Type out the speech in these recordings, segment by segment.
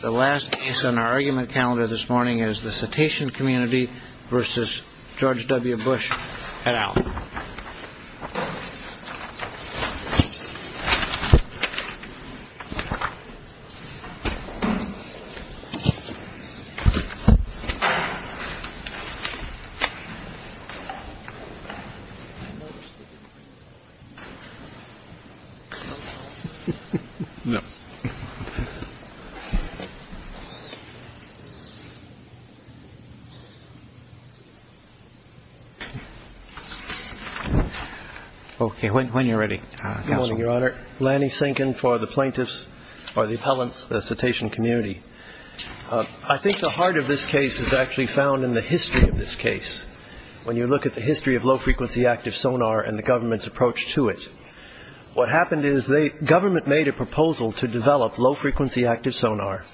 The last case on our argument calendar this morning is the Cetacean Community v. George W. Bush at Allen. I think the heart of this case is actually found in the history of this case, when you look at the history of low-frequency active sonar and the government's approach to it. What happened is the government made a proposal to develop low-frequency active sonar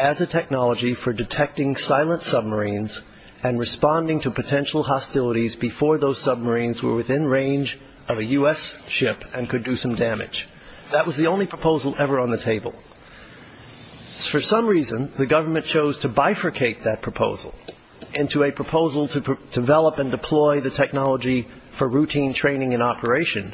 as a technology for detecting silent submarines and responding to potential hostilities before those submarines were within range of a U.S. ship and could do some damage. That was the only proposal ever on the table. For some reason, the government chose to bifurcate that proposal into a proposal to develop and deploy the technology for routine training and operation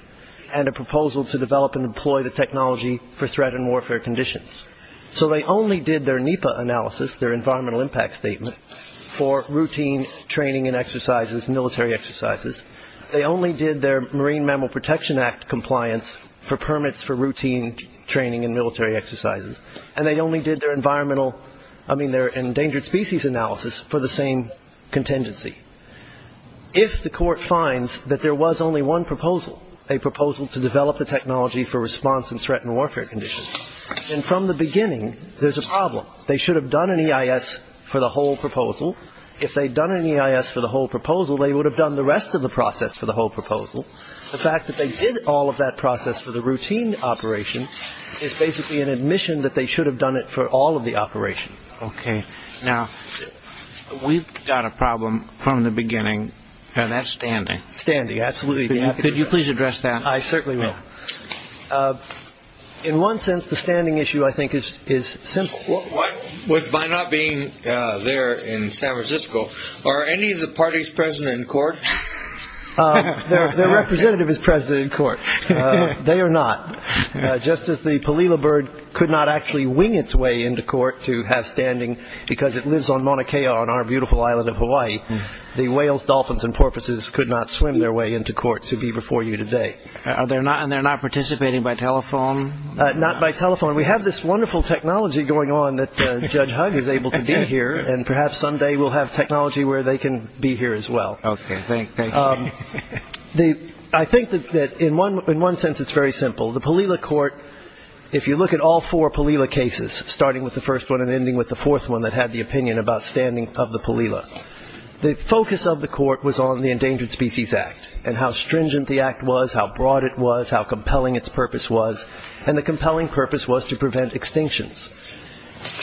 and a proposal to develop and deploy the technology for threat and warfare conditions. So they only did their NEPA analysis, their environmental impact statement, for routine training and exercises, military exercises. They only did their Marine Mammal Protection Act compliance for permits for routine training and military exercises. And they only did their endangered species analysis for the same contingency. If the court finds that there was only one proposal, a proposal to develop the technology for response and threat and warfare conditions, then from the beginning, there's a problem. They should have done an EIS for the whole proposal. If they'd done an EIS for the whole proposal, they would have done the rest of the process for the whole proposal. The fact that they did all of that process for the routine operation is basically an admission that they should have done it for all of the operation. OK. Now, we've got a problem from the beginning, and that's standing. Standing. Absolutely. Could you please address that? I certainly will. In one sense, the standing issue, I think, is simple. By not being there in San Francisco, are any of the parties present in court? Their representative is present in court. They are not. Just as the palila bird could not actually wing its way into court to have standing because it lives on Mauna Kea on our beautiful island of Hawaii, the whales, dolphins, and porpoises could not swim their way into court to be before you today. And they're not participating by telephone? Not by telephone. We have this wonderful technology going on that Judge Hug is able to be here, and perhaps someday we'll have technology where they can be here as well. OK. Thank you. I think that in one sense it's very simple. The palila court, if you look at all four palila cases, starting with the first one and ending with the fourth one, that had the opinion about standing of the palila, the focus of the court was on the Endangered Species Act and how stringent the act was, how broad it was, how compelling its purpose was, and the compelling purpose was to prevent extinctions.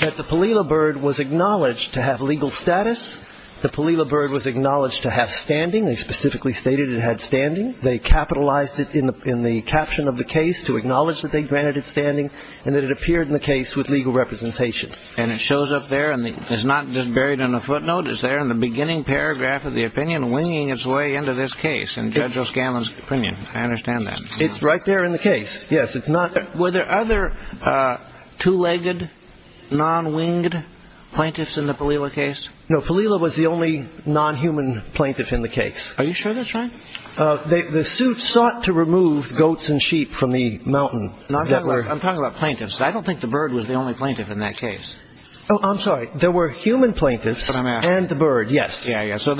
That the palila bird was acknowledged to have legal status, the palila bird was acknowledged to have standing. They specifically stated it had standing. They capitalized it in the caption of the case to acknowledge that they granted it standing and that it appeared in the case with legal representation. And it shows up there, and it's not just buried in a footnote. It's there in the beginning paragraph of the opinion winging its way into this case in Judge O'Scanlan's opinion. I understand that. It's right there in the case, yes. Were there other two-legged, non-winged plaintiffs in the palila case? No, palila was the only non-human plaintiff in the case. Are you sure that's right? The suit sought to remove goats and sheep from the mountain. I'm talking about plaintiffs. I don't think the bird was the only plaintiff in that case. Oh, I'm sorry. There were human plaintiffs and the bird, yes. Yeah, yeah. So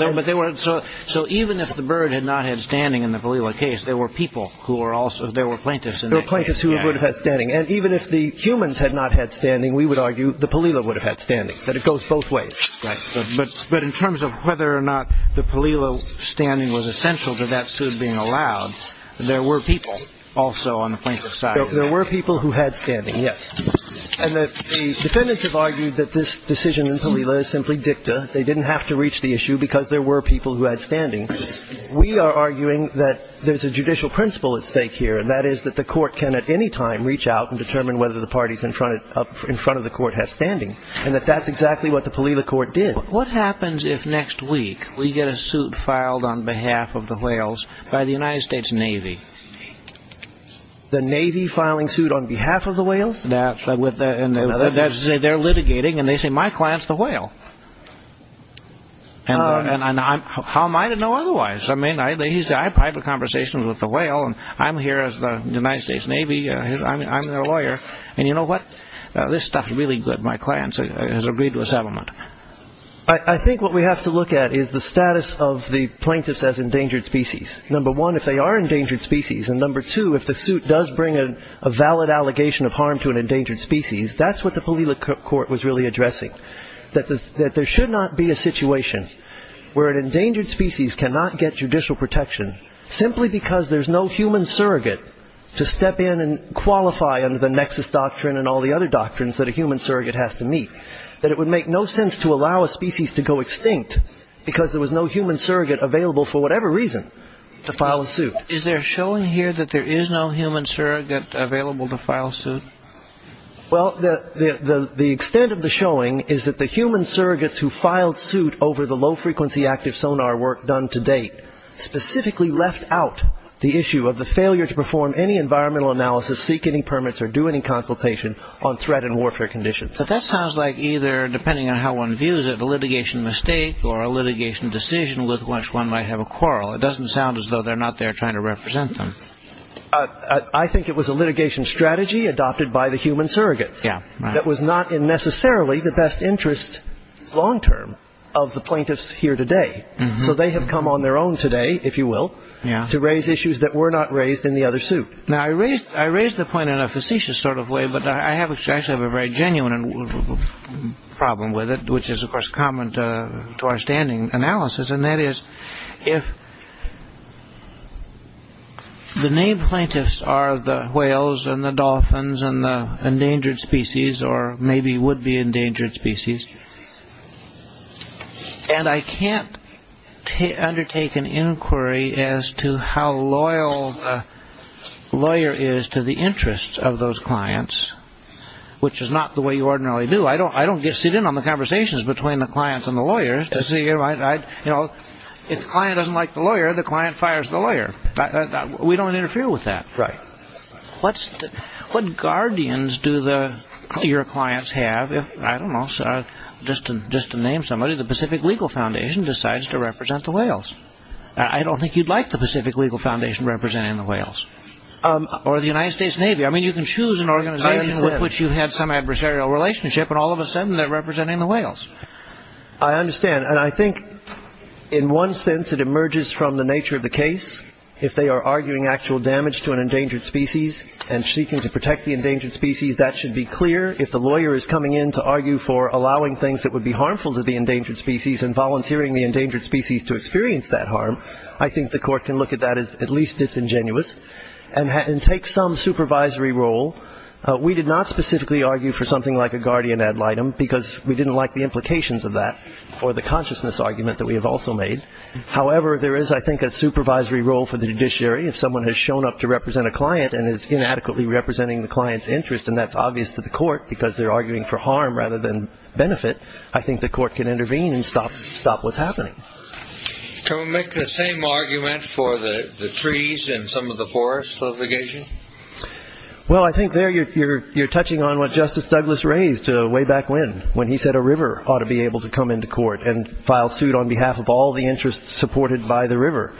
even if the bird had not had standing in the palila case, there were plaintiffs in that case. There were plaintiffs who would have had standing. And even if the humans had not had standing, we would argue the palila would have had standing. But it goes both ways. Right. But in terms of whether or not the palila standing was essential to that suit being allowed, there were people also on the plaintiff's side. There were people who had standing, yes. And the defendants have argued that this decision in palila is simply dicta. They didn't have to reach the issue because there were people who had standing. We are arguing that there's a judicial principle at stake here, and that is that the court can at any time reach out and determine whether the party's in front of the court has standing, and that that's exactly what the palila court did. What happens if next week we get a suit filed on behalf of the whales by the United States Navy? The Navy filing suit on behalf of the whales? That's right. They're litigating, and they say, My client's the whale. And how am I to know otherwise? I mean, I have private conversations with the whale, and I'm here as the United States Navy. I'm their lawyer. And you know what? This stuff is really good. My client has agreed to a settlement. I think what we have to look at is the status of the plaintiffs as endangered species. Number one, if they are endangered species, and number two, if the suit does bring a valid allegation of harm to an endangered species, that's what the palila court was really addressing, that there should not be a situation where an endangered species cannot get judicial protection simply because there's no human surrogate to step in and qualify under the nexus doctrine and all the other doctrines that a human surrogate has to meet, that it would make no sense to allow a species to go extinct because there was no human surrogate available for whatever reason to file a suit. Is there a showing here that there is no human surrogate available to file a suit? Well, the extent of the showing is that the human surrogates who filed suit specifically left out the issue of the failure to perform any environmental analysis, seek any permits or do any consultation on threat and warfare conditions. But that sounds like either, depending on how one views it, a litigation mistake or a litigation decision with which one might have a quarrel. It doesn't sound as though they're not there trying to represent them. I think it was a litigation strategy adopted by the human surrogates that was not in necessarily the best interest long-term of the plaintiffs here today. So they have come on their own today, if you will, to raise issues that were not raised in the other suit. Now, I raise the point in a facetious sort of way, but I actually have a very genuine problem with it, which is, of course, common to our standing analysis, and that is if the main plaintiffs are the whales and the dolphins and the endangered species, or maybe would-be endangered species, and I can't undertake an inquiry as to how loyal the lawyer is to the interests of those clients, which is not the way you ordinarily do. I don't sit in on the conversations between the clients and the lawyers. If the client doesn't like the lawyer, the client fires the lawyer. We don't interfere with that. Right. What guardians do your clients have if, I don't know, just to name somebody, the Pacific Legal Foundation decides to represent the whales? I don't think you'd like the Pacific Legal Foundation representing the whales. Or the United States Navy. I mean, you can choose an organization with which you had some adversarial relationship, and all of a sudden they're representing the whales. I understand, and I think in one sense it emerges from the nature of the case. If they are arguing actual damage to an endangered species and seeking to protect the endangered species, that should be clear. If the lawyer is coming in to argue for allowing things that would be harmful to the endangered species and volunteering the endangered species to experience that harm, I think the court can look at that as at least disingenuous and take some supervisory role. We did not specifically argue for something like a guardian ad litem because we didn't like the implications of that or the consciousness argument that we have also made. However, there is, I think, a supervisory role for the judiciary. If someone has shown up to represent a client and is inadequately representing the client's interest, and that's obvious to the court because they're arguing for harm rather than benefit, I think the court can intervene and stop what's happening. Can we make the same argument for the trees and some of the forest litigation? Well, I think there you're touching on what Justice Douglas raised way back when, when he said a river ought to be able to come into court and file suit on behalf of all the interests supported by the river.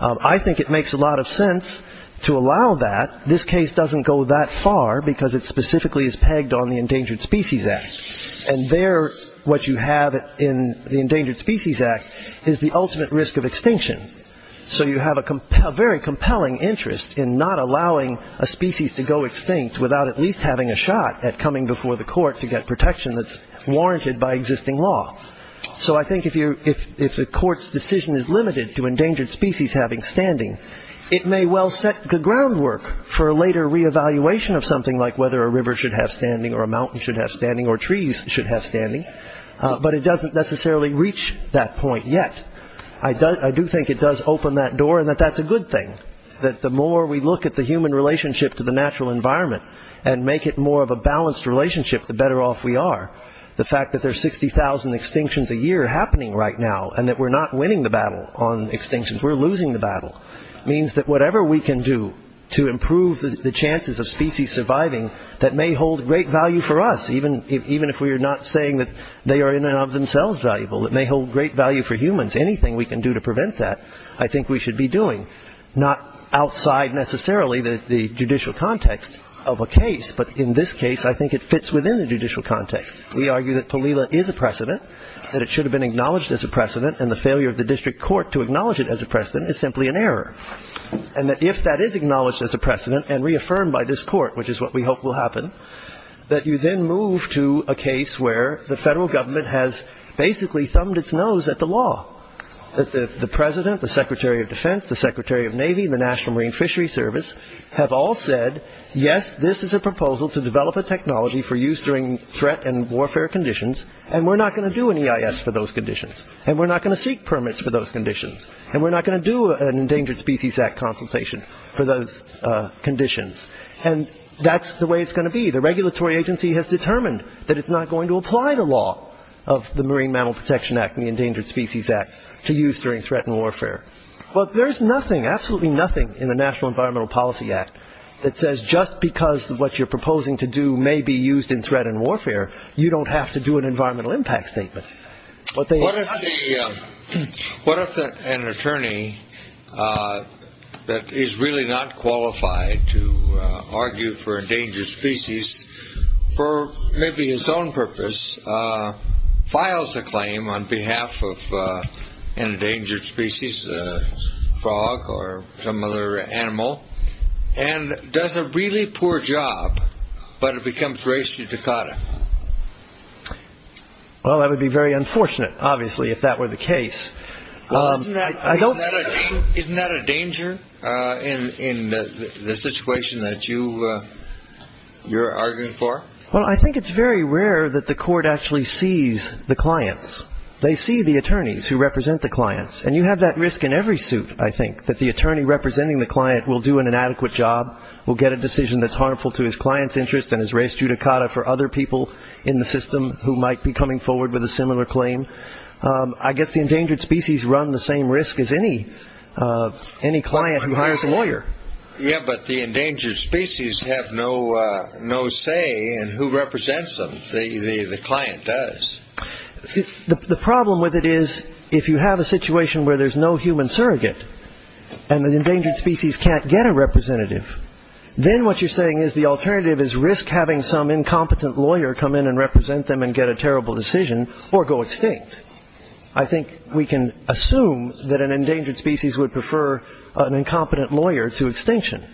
I think it makes a lot of sense to allow that. This case doesn't go that far because it specifically is pegged on the Endangered Species Act. And there what you have in the Endangered Species Act is the ultimate risk of extinction. So you have a very compelling interest in not allowing a species to go extinct without at least having a shot at coming before the court to get protection that's warranted by existing law. So I think if the court's decision is limited to endangered species having standing, it may well set the groundwork for a later reevaluation of something like whether a river should have standing or a mountain should have standing or trees should have standing. But it doesn't necessarily reach that point yet. I do think it does open that door and that that's a good thing, that the more we look at the human relationship to the natural environment and make it more of a balanced relationship, the better off we are. The fact that there are 60,000 extinctions a year happening right now and that we're not winning the battle on extinctions, we're losing the battle, means that whatever we can do to improve the chances of species surviving that may hold great value for us, even if we are not saying that they are in and of themselves valuable, that may hold great value for humans, anything we can do to prevent that, I think we should be doing, not outside necessarily the judicial context of a case, but in this case I think it fits within the judicial context. We argue that palela is a precedent, that it should have been acknowledged as a precedent, and the failure of the district court to acknowledge it as a precedent is simply an error, and that if that is acknowledged as a precedent and reaffirmed by this court, which is what we hope will happen, that you then move to a case where the federal government has basically thumbed its nose at the law, have all said, yes, this is a proposal to develop a technology for use during threat and warfare conditions, and we're not going to do an EIS for those conditions, and we're not going to seek permits for those conditions, and we're not going to do an Endangered Species Act consultation for those conditions, and that's the way it's going to be. The regulatory agency has determined that it's not going to apply the law of the Marine Mammal Protection Act and the Endangered Species Act to use during threat and warfare. Well, there's nothing, absolutely nothing in the National Environmental Policy Act that says just because what you're proposing to do may be used in threat and warfare, you don't have to do an environmental impact statement. What if an attorney that is really not qualified to argue for endangered species for maybe his own purpose files a claim on behalf of an endangered species, a frog or some other animal, and does a really poor job, but it becomes race to Dakota? Well, that would be very unfortunate, obviously, if that were the case. Isn't that a danger in the situation that you're arguing for? Well, I think it's very rare that the court actually sees the clients. They see the attorneys who represent the clients, and you have that risk in every suit, I think, that the attorney representing the client will do an inadequate job, will get a decision that's harmful to his client's interest and his race to Dakota for other people in the system who might be coming forward with a similar claim. I guess the endangered species run the same risk as any client who hires a lawyer. Yeah, but the endangered species have no say in who represents them. The client does. The problem with it is if you have a situation where there's no human surrogate and the endangered species can't get a representative, then what you're saying is the alternative is risk having some incompetent lawyer come in and represent them and get a terrible decision or go extinct. I think we can assume that an endangered species would prefer an incompetent lawyer to extinction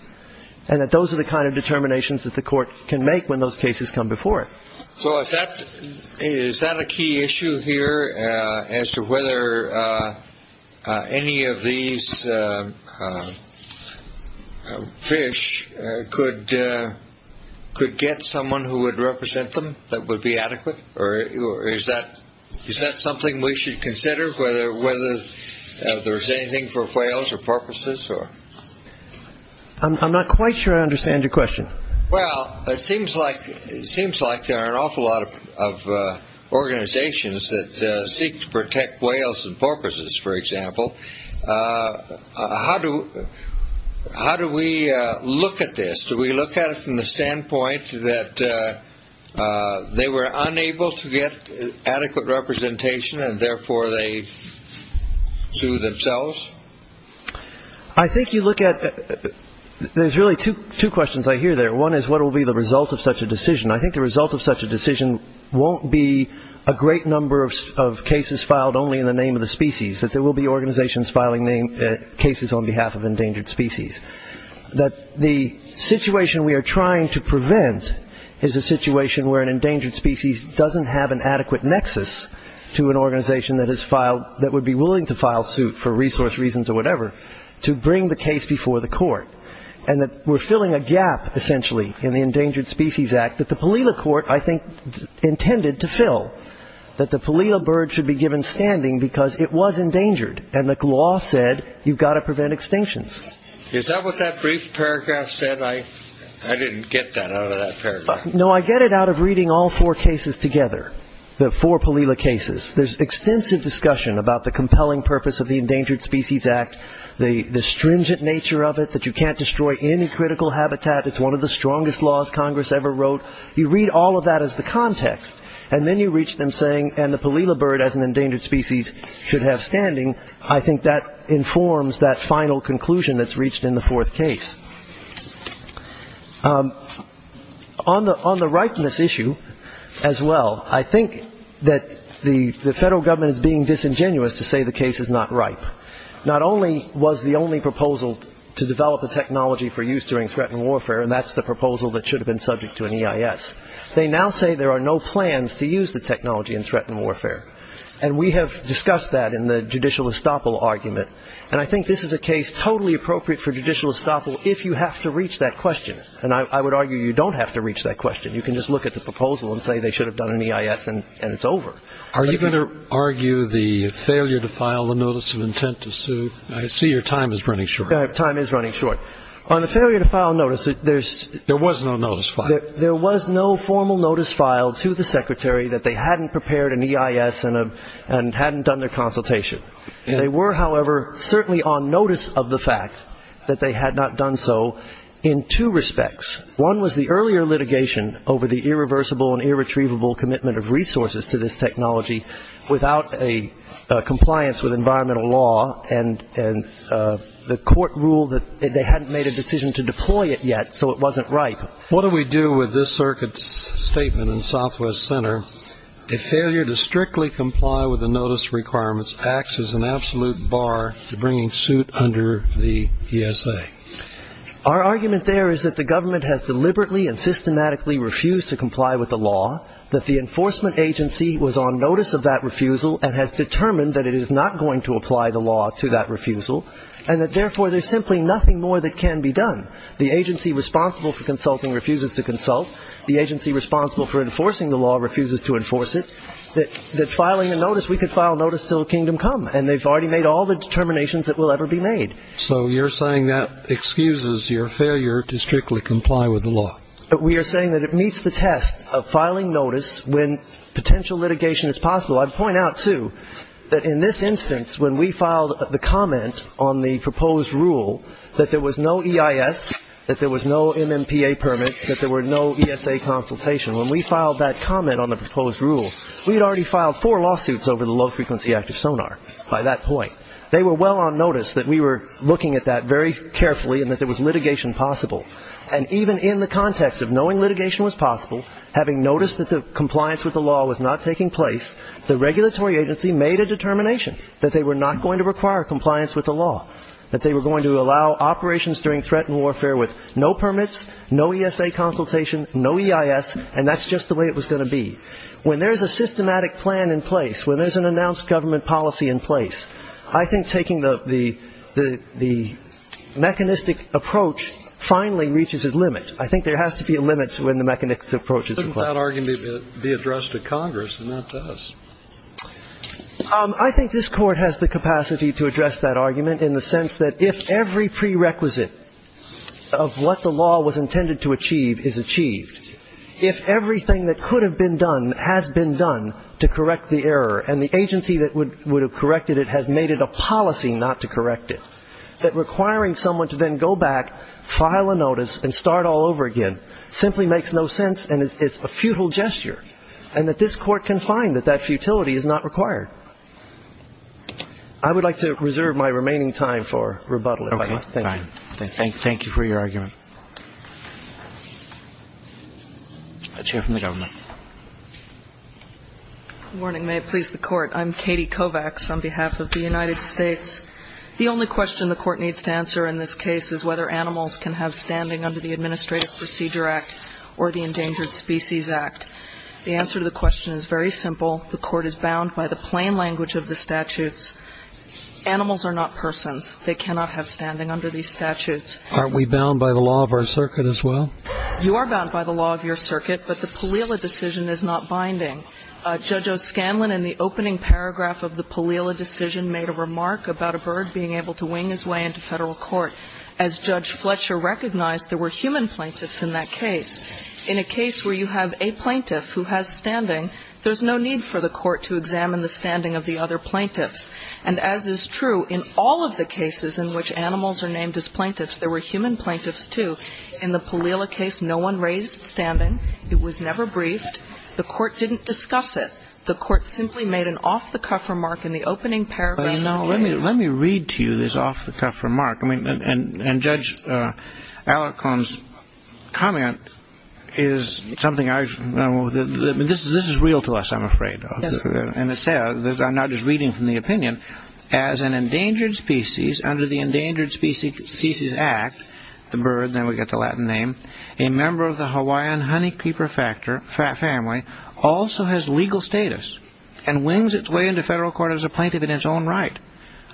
and that those are the kind of determinations that the court can make when those cases come before it. So is that a key issue here as to whether any of these fish could get someone who would represent them that would be adequate? Or is that something we should consider, whether there's anything for whales or porpoises? I'm not quite sure I understand your question. Well, it seems like there are an awful lot of organizations that seek to protect whales and porpoises, for example. How do we look at this? Do we look at it from the standpoint that they were unable to get adequate representation and therefore they sue themselves? I think you look at – there's really two questions I hear there. One is what will be the result of such a decision. I think the result of such a decision won't be a great number of cases filed only in the name of the species, that there will be organizations filing cases on behalf of endangered species. That the situation we are trying to prevent is a situation where an endangered species doesn't have an adequate nexus to an organization that would be willing to file suit for resource reasons or whatever to bring the case before the court. And that we're filling a gap, essentially, in the Endangered Species Act that the Palila Court, I think, intended to fill. That the Palila bird should be given standing because it was endangered and the law said you've got to prevent extinctions. Is that what that brief paragraph said? I didn't get that out of that paragraph. No, I get it out of reading all four cases together, the four Palila cases. There's extensive discussion about the compelling purpose of the Endangered Species Act, the stringent nature of it, that you can't destroy any critical habitat, it's one of the strongest laws Congress ever wrote. You read all of that as the context and then you reach them saying, and the Palila bird as an endangered species should have standing, I think that informs that final conclusion that's reached in the fourth case. On the ripeness issue as well, I think that the federal government is being disingenuous to say the case is not ripe. Not only was the only proposal to develop a technology for use during threatened warfare, and that's the proposal that should have been subject to an EIS, they now say there are no plans to use the technology in threatened warfare. And we have discussed that in the judicial estoppel argument. And I think this is a case totally appropriate for judicial estoppel if you have to reach that question. And I would argue you don't have to reach that question. You can just look at the proposal and say they should have done an EIS and it's over. Are you going to argue the failure to file the notice of intent to sue? I see your time is running short. My time is running short. On the failure to file notice, there's... There was no notice filed. There was no formal notice filed to the secretary that they hadn't prepared an EIS and hadn't done their consultation. They were, however, certainly on notice of the fact that they had not done so in two respects. One was the earlier litigation over the irreversible and irretrievable commitment of resources to this technology without a compliance with environmental law, and the court ruled that they hadn't made a decision to deploy it yet, so it wasn't ripe. What do we do with this circuit's statement in Southwest Center? A failure to strictly comply with the notice requirements acts as an absolute bar to bringing suit under the ESA. Our argument there is that the government has deliberately and systematically refused to comply with the law, that the enforcement agency was on notice of that refusal and has determined that it is not going to apply the law to that refusal, and that, therefore, there's simply nothing more that can be done. The agency responsible for consulting refuses to consult. The agency responsible for enforcing the law refuses to enforce it. That filing a notice, we could file notice till kingdom come, and they've already made all the determinations that will ever be made. So you're saying that excuses your failure to strictly comply with the law. We are saying that it meets the test of filing notice when potential litigation is possible. I'd point out, too, that in this instance, when we filed the comment on the proposed rule, that there was no EIS, that there was no MMPA permits, that there were no ESA consultation. When we filed that comment on the proposed rule, we had already filed four lawsuits over the Low Frequency Active Sonar by that point. They were well on notice that we were looking at that very carefully and that there was litigation possible. And even in the context of knowing litigation was possible, having noticed that the compliance with the law was not taking place, the regulatory agency made a determination that they were not going to require compliance with the law, that they were going to allow operations during threat and warfare with no permits, no ESA consultation, no EIS, and that's just the way it was going to be. When there's a systematic plan in place, when there's an announced government policy in place, I think taking the mechanistic approach finally reaches its limit. I think there has to be a limit to when the mechanistic approach is required. Shouldn't that argument be addressed to Congress, and that does? I think this Court has the capacity to address that argument in the sense that if every prerequisite of what the law was intended to achieve is achieved, if everything that could have been done has been done to correct the error and the agency that would have corrected it has made it a policy not to correct it, that requiring someone to then go back, file a notice, and start all over again simply makes no sense and is a futile gesture, and that this Court can find that that futility is not required. I would like to reserve my remaining time for rebuttal, if I might. Okay. Fine. Thank you. Thank you for your argument. A chair from the government. Good morning. May it please the Court. I'm Katie Kovacs on behalf of the United States. The only question the Court needs to answer in this case is whether animals can have standing under the Administrative Procedure Act or the Endangered Species Act. The answer to the question is very simple. The Court is bound by the plain language of the statutes. Animals are not persons. They cannot have standing under these statutes. Aren't we bound by the law of our circuit as well? You are bound by the law of your circuit, but the Palila decision is not binding. Judge O'Scanlan, in the opening paragraph of the Palila decision, made a remark about a bird being able to wing his way into federal court. As Judge Fletcher recognized, there were human plaintiffs in that case. In a case where you have a plaintiff who has standing, there's no need for the Court to examine the standing of the other plaintiffs. And as is true in all of the cases in which animals are named as plaintiffs, there were human plaintiffs too. In the Palila case, no one raised standing. It was never briefed. The Court didn't discuss it. The Court simply made an off-the-cuff remark in the opening paragraph. Let me read to you this off-the-cuff remark. And Judge Alicorn's comment is something I've... This is real to us, I'm afraid. And I'm not just reading from the opinion. As an endangered species, under the Endangered Species Act, the bird, then we get the Latin name, a member of the Hawaiian honeycreeper family also has legal status and wings its way into federal court as a plaintiff in its own right.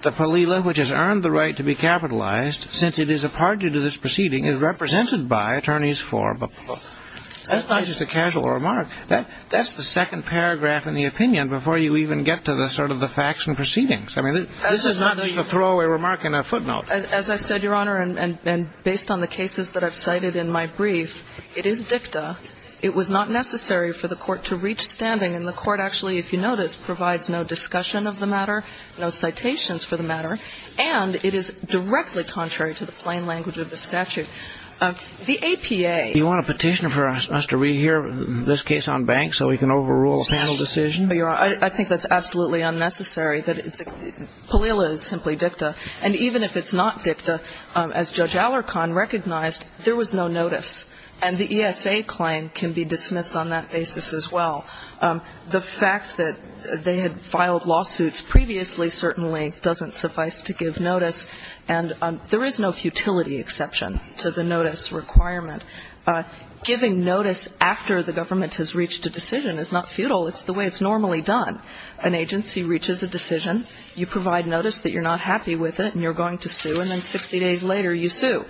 The Palila, which has earned the right to be capitalized, since it is a part due to this proceeding, is represented by attorneys for. That's not just a casual remark. That's the second paragraph in the opinion before you even get to the sort of the facts and proceedings. I mean, this is not just a throwaway remark in a footnote. As I said, Your Honor, and based on the cases that I've cited in my brief, it is dicta. It was not necessary for the Court to reach standing, and the Court actually, if you notice, provides no discussion of the matter, no citations for the matter, and it is directly contrary to the plain language of the statute. The APA... You want a petition for us to rehear this case on banks so we can overrule a panel decision? I think that's absolutely unnecessary. Palila is simply dicta, and even if it's not dicta, as Judge Alicorn recognized, there was no notice. And the ESA claim can be dismissed on that basis as well. The fact that they had filed lawsuits previously certainly doesn't suffice to give notice. And there is no futility exception to the notice requirement. Giving notice after the government has reached a decision is not futile. It's the way it's normally done. An agency reaches a decision. You provide notice that you're not happy with it and you're going to sue, and then 60 days later, you sue.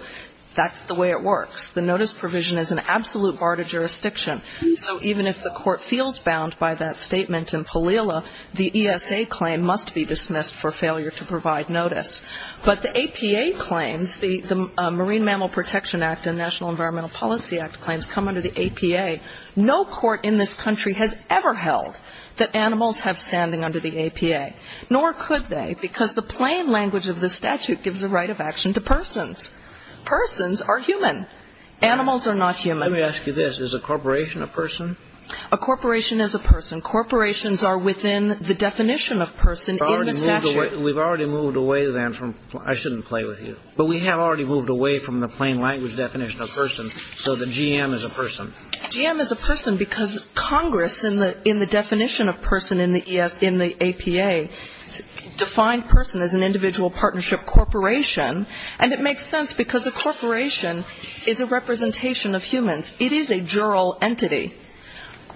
That's the way it works. The notice provision is an absolute bar to jurisdiction. So even if the court feels bound by that statement in Palila, the ESA claim must be dismissed for failure to provide notice. But the APA claims, the Marine Mammal Protection Act and National Environmental Policy Act claims, come under the APA. No court in this country has ever held that animals have standing under the APA, nor could they, because the plain language of the statute gives the right of action to persons. Persons are human. Animals are not human. Let me ask you this. Is a corporation a person? A corporation is a person. Corporations are within the definition of person in the statute. We've already moved away, then, from the plain language definition of person, so the GM is a person. GM is a person because Congress, in the definition of person in the APA, defined person as an individual partnership corporation. And it makes sense because a corporation is a representation of humans. It is a jural entity.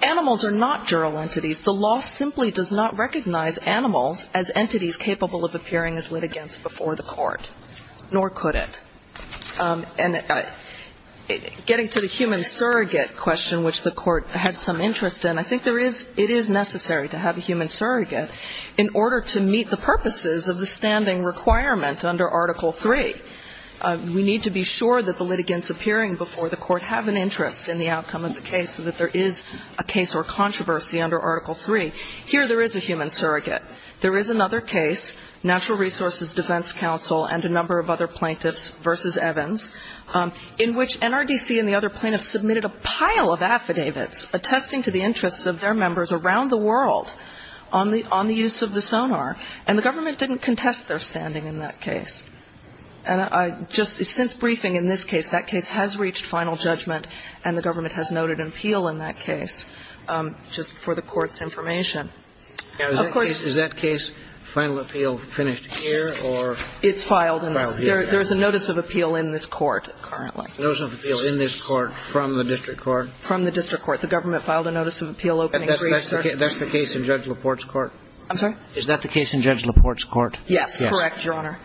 Animals are not jural entities. The law simply does not recognize animals as entities capable of appearing as litigants before the court, nor could it. And getting to the human surrogate question, which the court had some interest in, I think there is ‑‑ it is necessary to have a human surrogate in order to meet the purposes of the standing requirement under Article III. We need to be sure that the litigants appearing before the court have an interest in the outcome of the case so that there is a case or controversy under Article III. Here there is a human surrogate. There is another case, Natural Resources Defense Council and a number of other plaintiffs versus Evans, in which NRDC and the other plaintiffs submitted a pile of affidavits attesting to the interests of their members around the world on the use of the sonar. And the government didn't contest their standing in that case. And I just ‑‑ since briefing in this case, that case has reached final judgment and the government has noted an appeal in that case just for the court's information. Of course ‑‑ Is that case final appeal finished here or ‑‑ It's filed. There is a notice of appeal in this court currently. Notice of appeal in this court from the district court? From the district court. The government filed a notice of appeal opening brief, sir. That's the case in Judge LaPorte's court? I'm sorry? Is that the case in Judge LaPorte's court? Yes. Correct, Your Honor.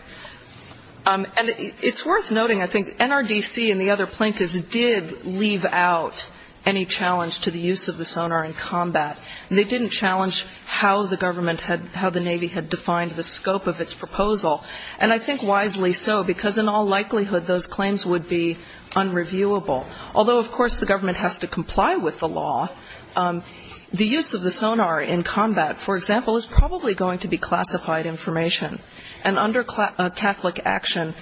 And it's worth noting, I think, NRDC and the other plaintiffs did leave out any challenge to the use of the sonar in combat. They didn't challenge how the government had ‑‑ how the Navy had defined the scope of its proposal. And I think wisely so, because in all likelihood, those claims would be unreviewable. Although, of course, the government has to comply with the law, the use of the sonar in combat, for example, is probably going to be classified information. And under Catholic action,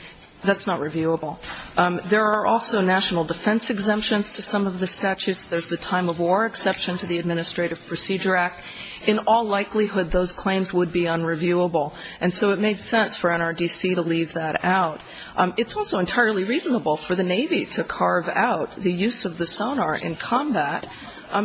that's not reviewable. There are also national defense exemptions to some of the statutes. There's the time of war exception to the Administrative Procedure Act. In all likelihood, those claims would be unreviewable. And so it made sense for NRDC to leave that out. It's also entirely reasonable for the Navy to carve out the use of the sonar in combat,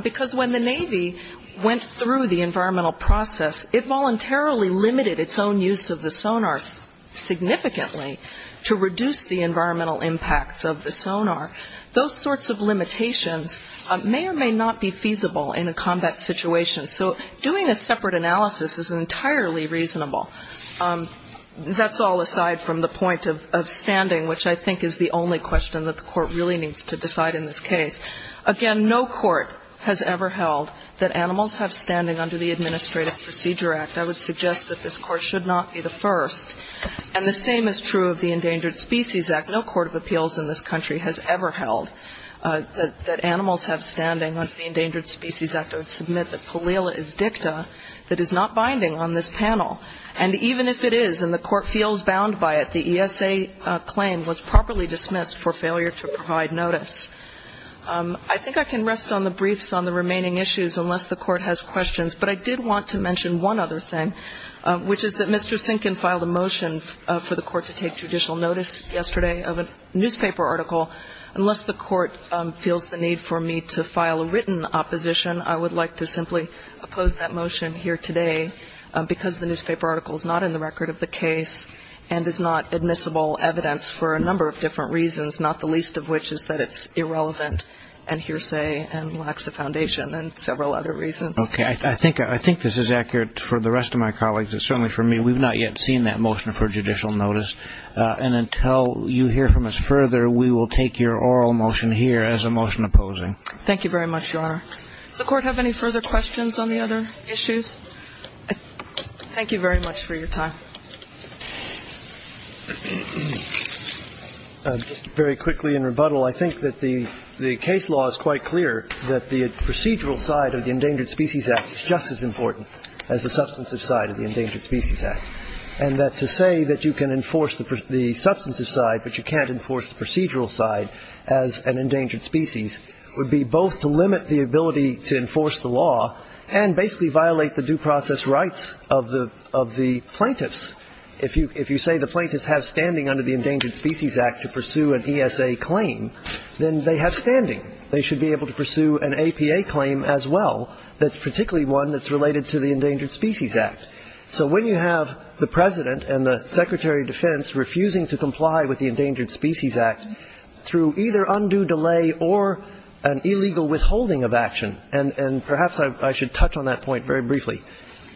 because when the Navy went through the environmental process, it voluntarily limited its own use of the sonar significantly to reduce the environmental impacts of the sonar. Those sorts of limitations may or may not be feasible in a combat situation. So doing a separate analysis is entirely reasonable. That's all aside from the point of standing, which I think is the only question that the Court really needs to decide in this case. Again, no court has ever held that animals have standing under the Administrative Procedure Act. I would suggest that this Court should not be the first. And the same is true of the Endangered Species Act. No court of appeals in this country has ever held that animals have standing under the Endangered Species Act. I would submit that Pallela is dicta that is not binding on this panel. And even if it is and the Court feels bound by it, the ESA claim was properly dismissed for failure to provide notice. I think I can rest on the briefs on the remaining issues unless the Court has questions. But I did want to mention one other thing, which is that Mr. Sinkin filed a motion for the Court to take judicial notice yesterday of a newspaper article. Unless the Court feels the need for me to file a written opposition, I would like to simply oppose that motion here today because the newspaper article is not in the record of the case and is not admissible evidence for a number of different reasons, not the least of which is that it's irrelevant and hearsay and lacks the foundation and several other reasons. Okay. I think this is accurate for the rest of my colleagues and certainly for me. We've not yet seen that motion for judicial notice. And until you hear from us further, we will take your oral motion here as a motion opposing. Thank you very much, Your Honor. Does the Court have any further questions on the other issues? Thank you very much for your time. Just very quickly in rebuttal, I think that the case law is quite clear that the procedural side of the Endangered Species Act is just as important as the substantive side of the Endangered Species Act, and that to say that you can enforce the substantive side but you can't enforce the procedural side as an endangered species would be both to limit the ability to enforce the law and basically violate the due process rights of the plaintiffs. If you say the plaintiffs have standing under the Endangered Species Act to pursue an ESA claim, then they have standing. They should be able to pursue an APA claim as well that's particularly one that's related to the Endangered Species Act. So when you have the President and the Secretary of Defense refusing to comply with the Endangered Species Act through either undue delay or an illegal withholding of action, and perhaps I should touch on that point very briefly,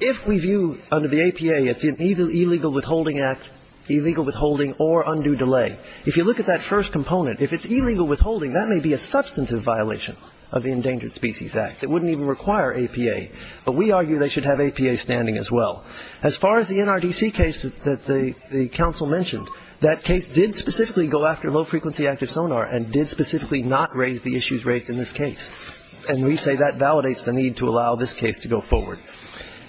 if we view under the APA it's either illegal withholding act, illegal withholding or undue delay, if you look at that first component, if it's illegal withholding, that may be a substantive violation of the Endangered Species Act. It wouldn't even require APA, but we argue they should have APA standing as well. As far as the NRDC case that the council mentioned, that case did specifically go after low-frequency active sonar and did specifically not raise the issues raised in this case. And we say that validates the need to allow this case to go forward.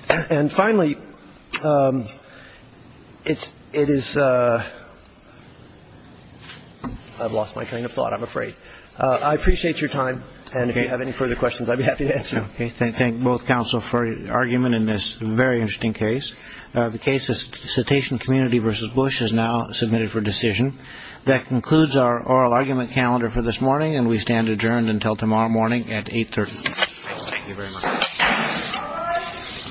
And finally, it is ‑‑ I've lost my train of thought, I'm afraid. I appreciate your time, and if you have any further questions, I'd be happy to answer. Okay. Thank both counsel for your argument in this very interesting case. The case is Cetacean Community v. Bush is now submitted for decision. That concludes our oral argument calendar for this morning, and we stand adjourned until tomorrow morning at 8.30. Thank you very much.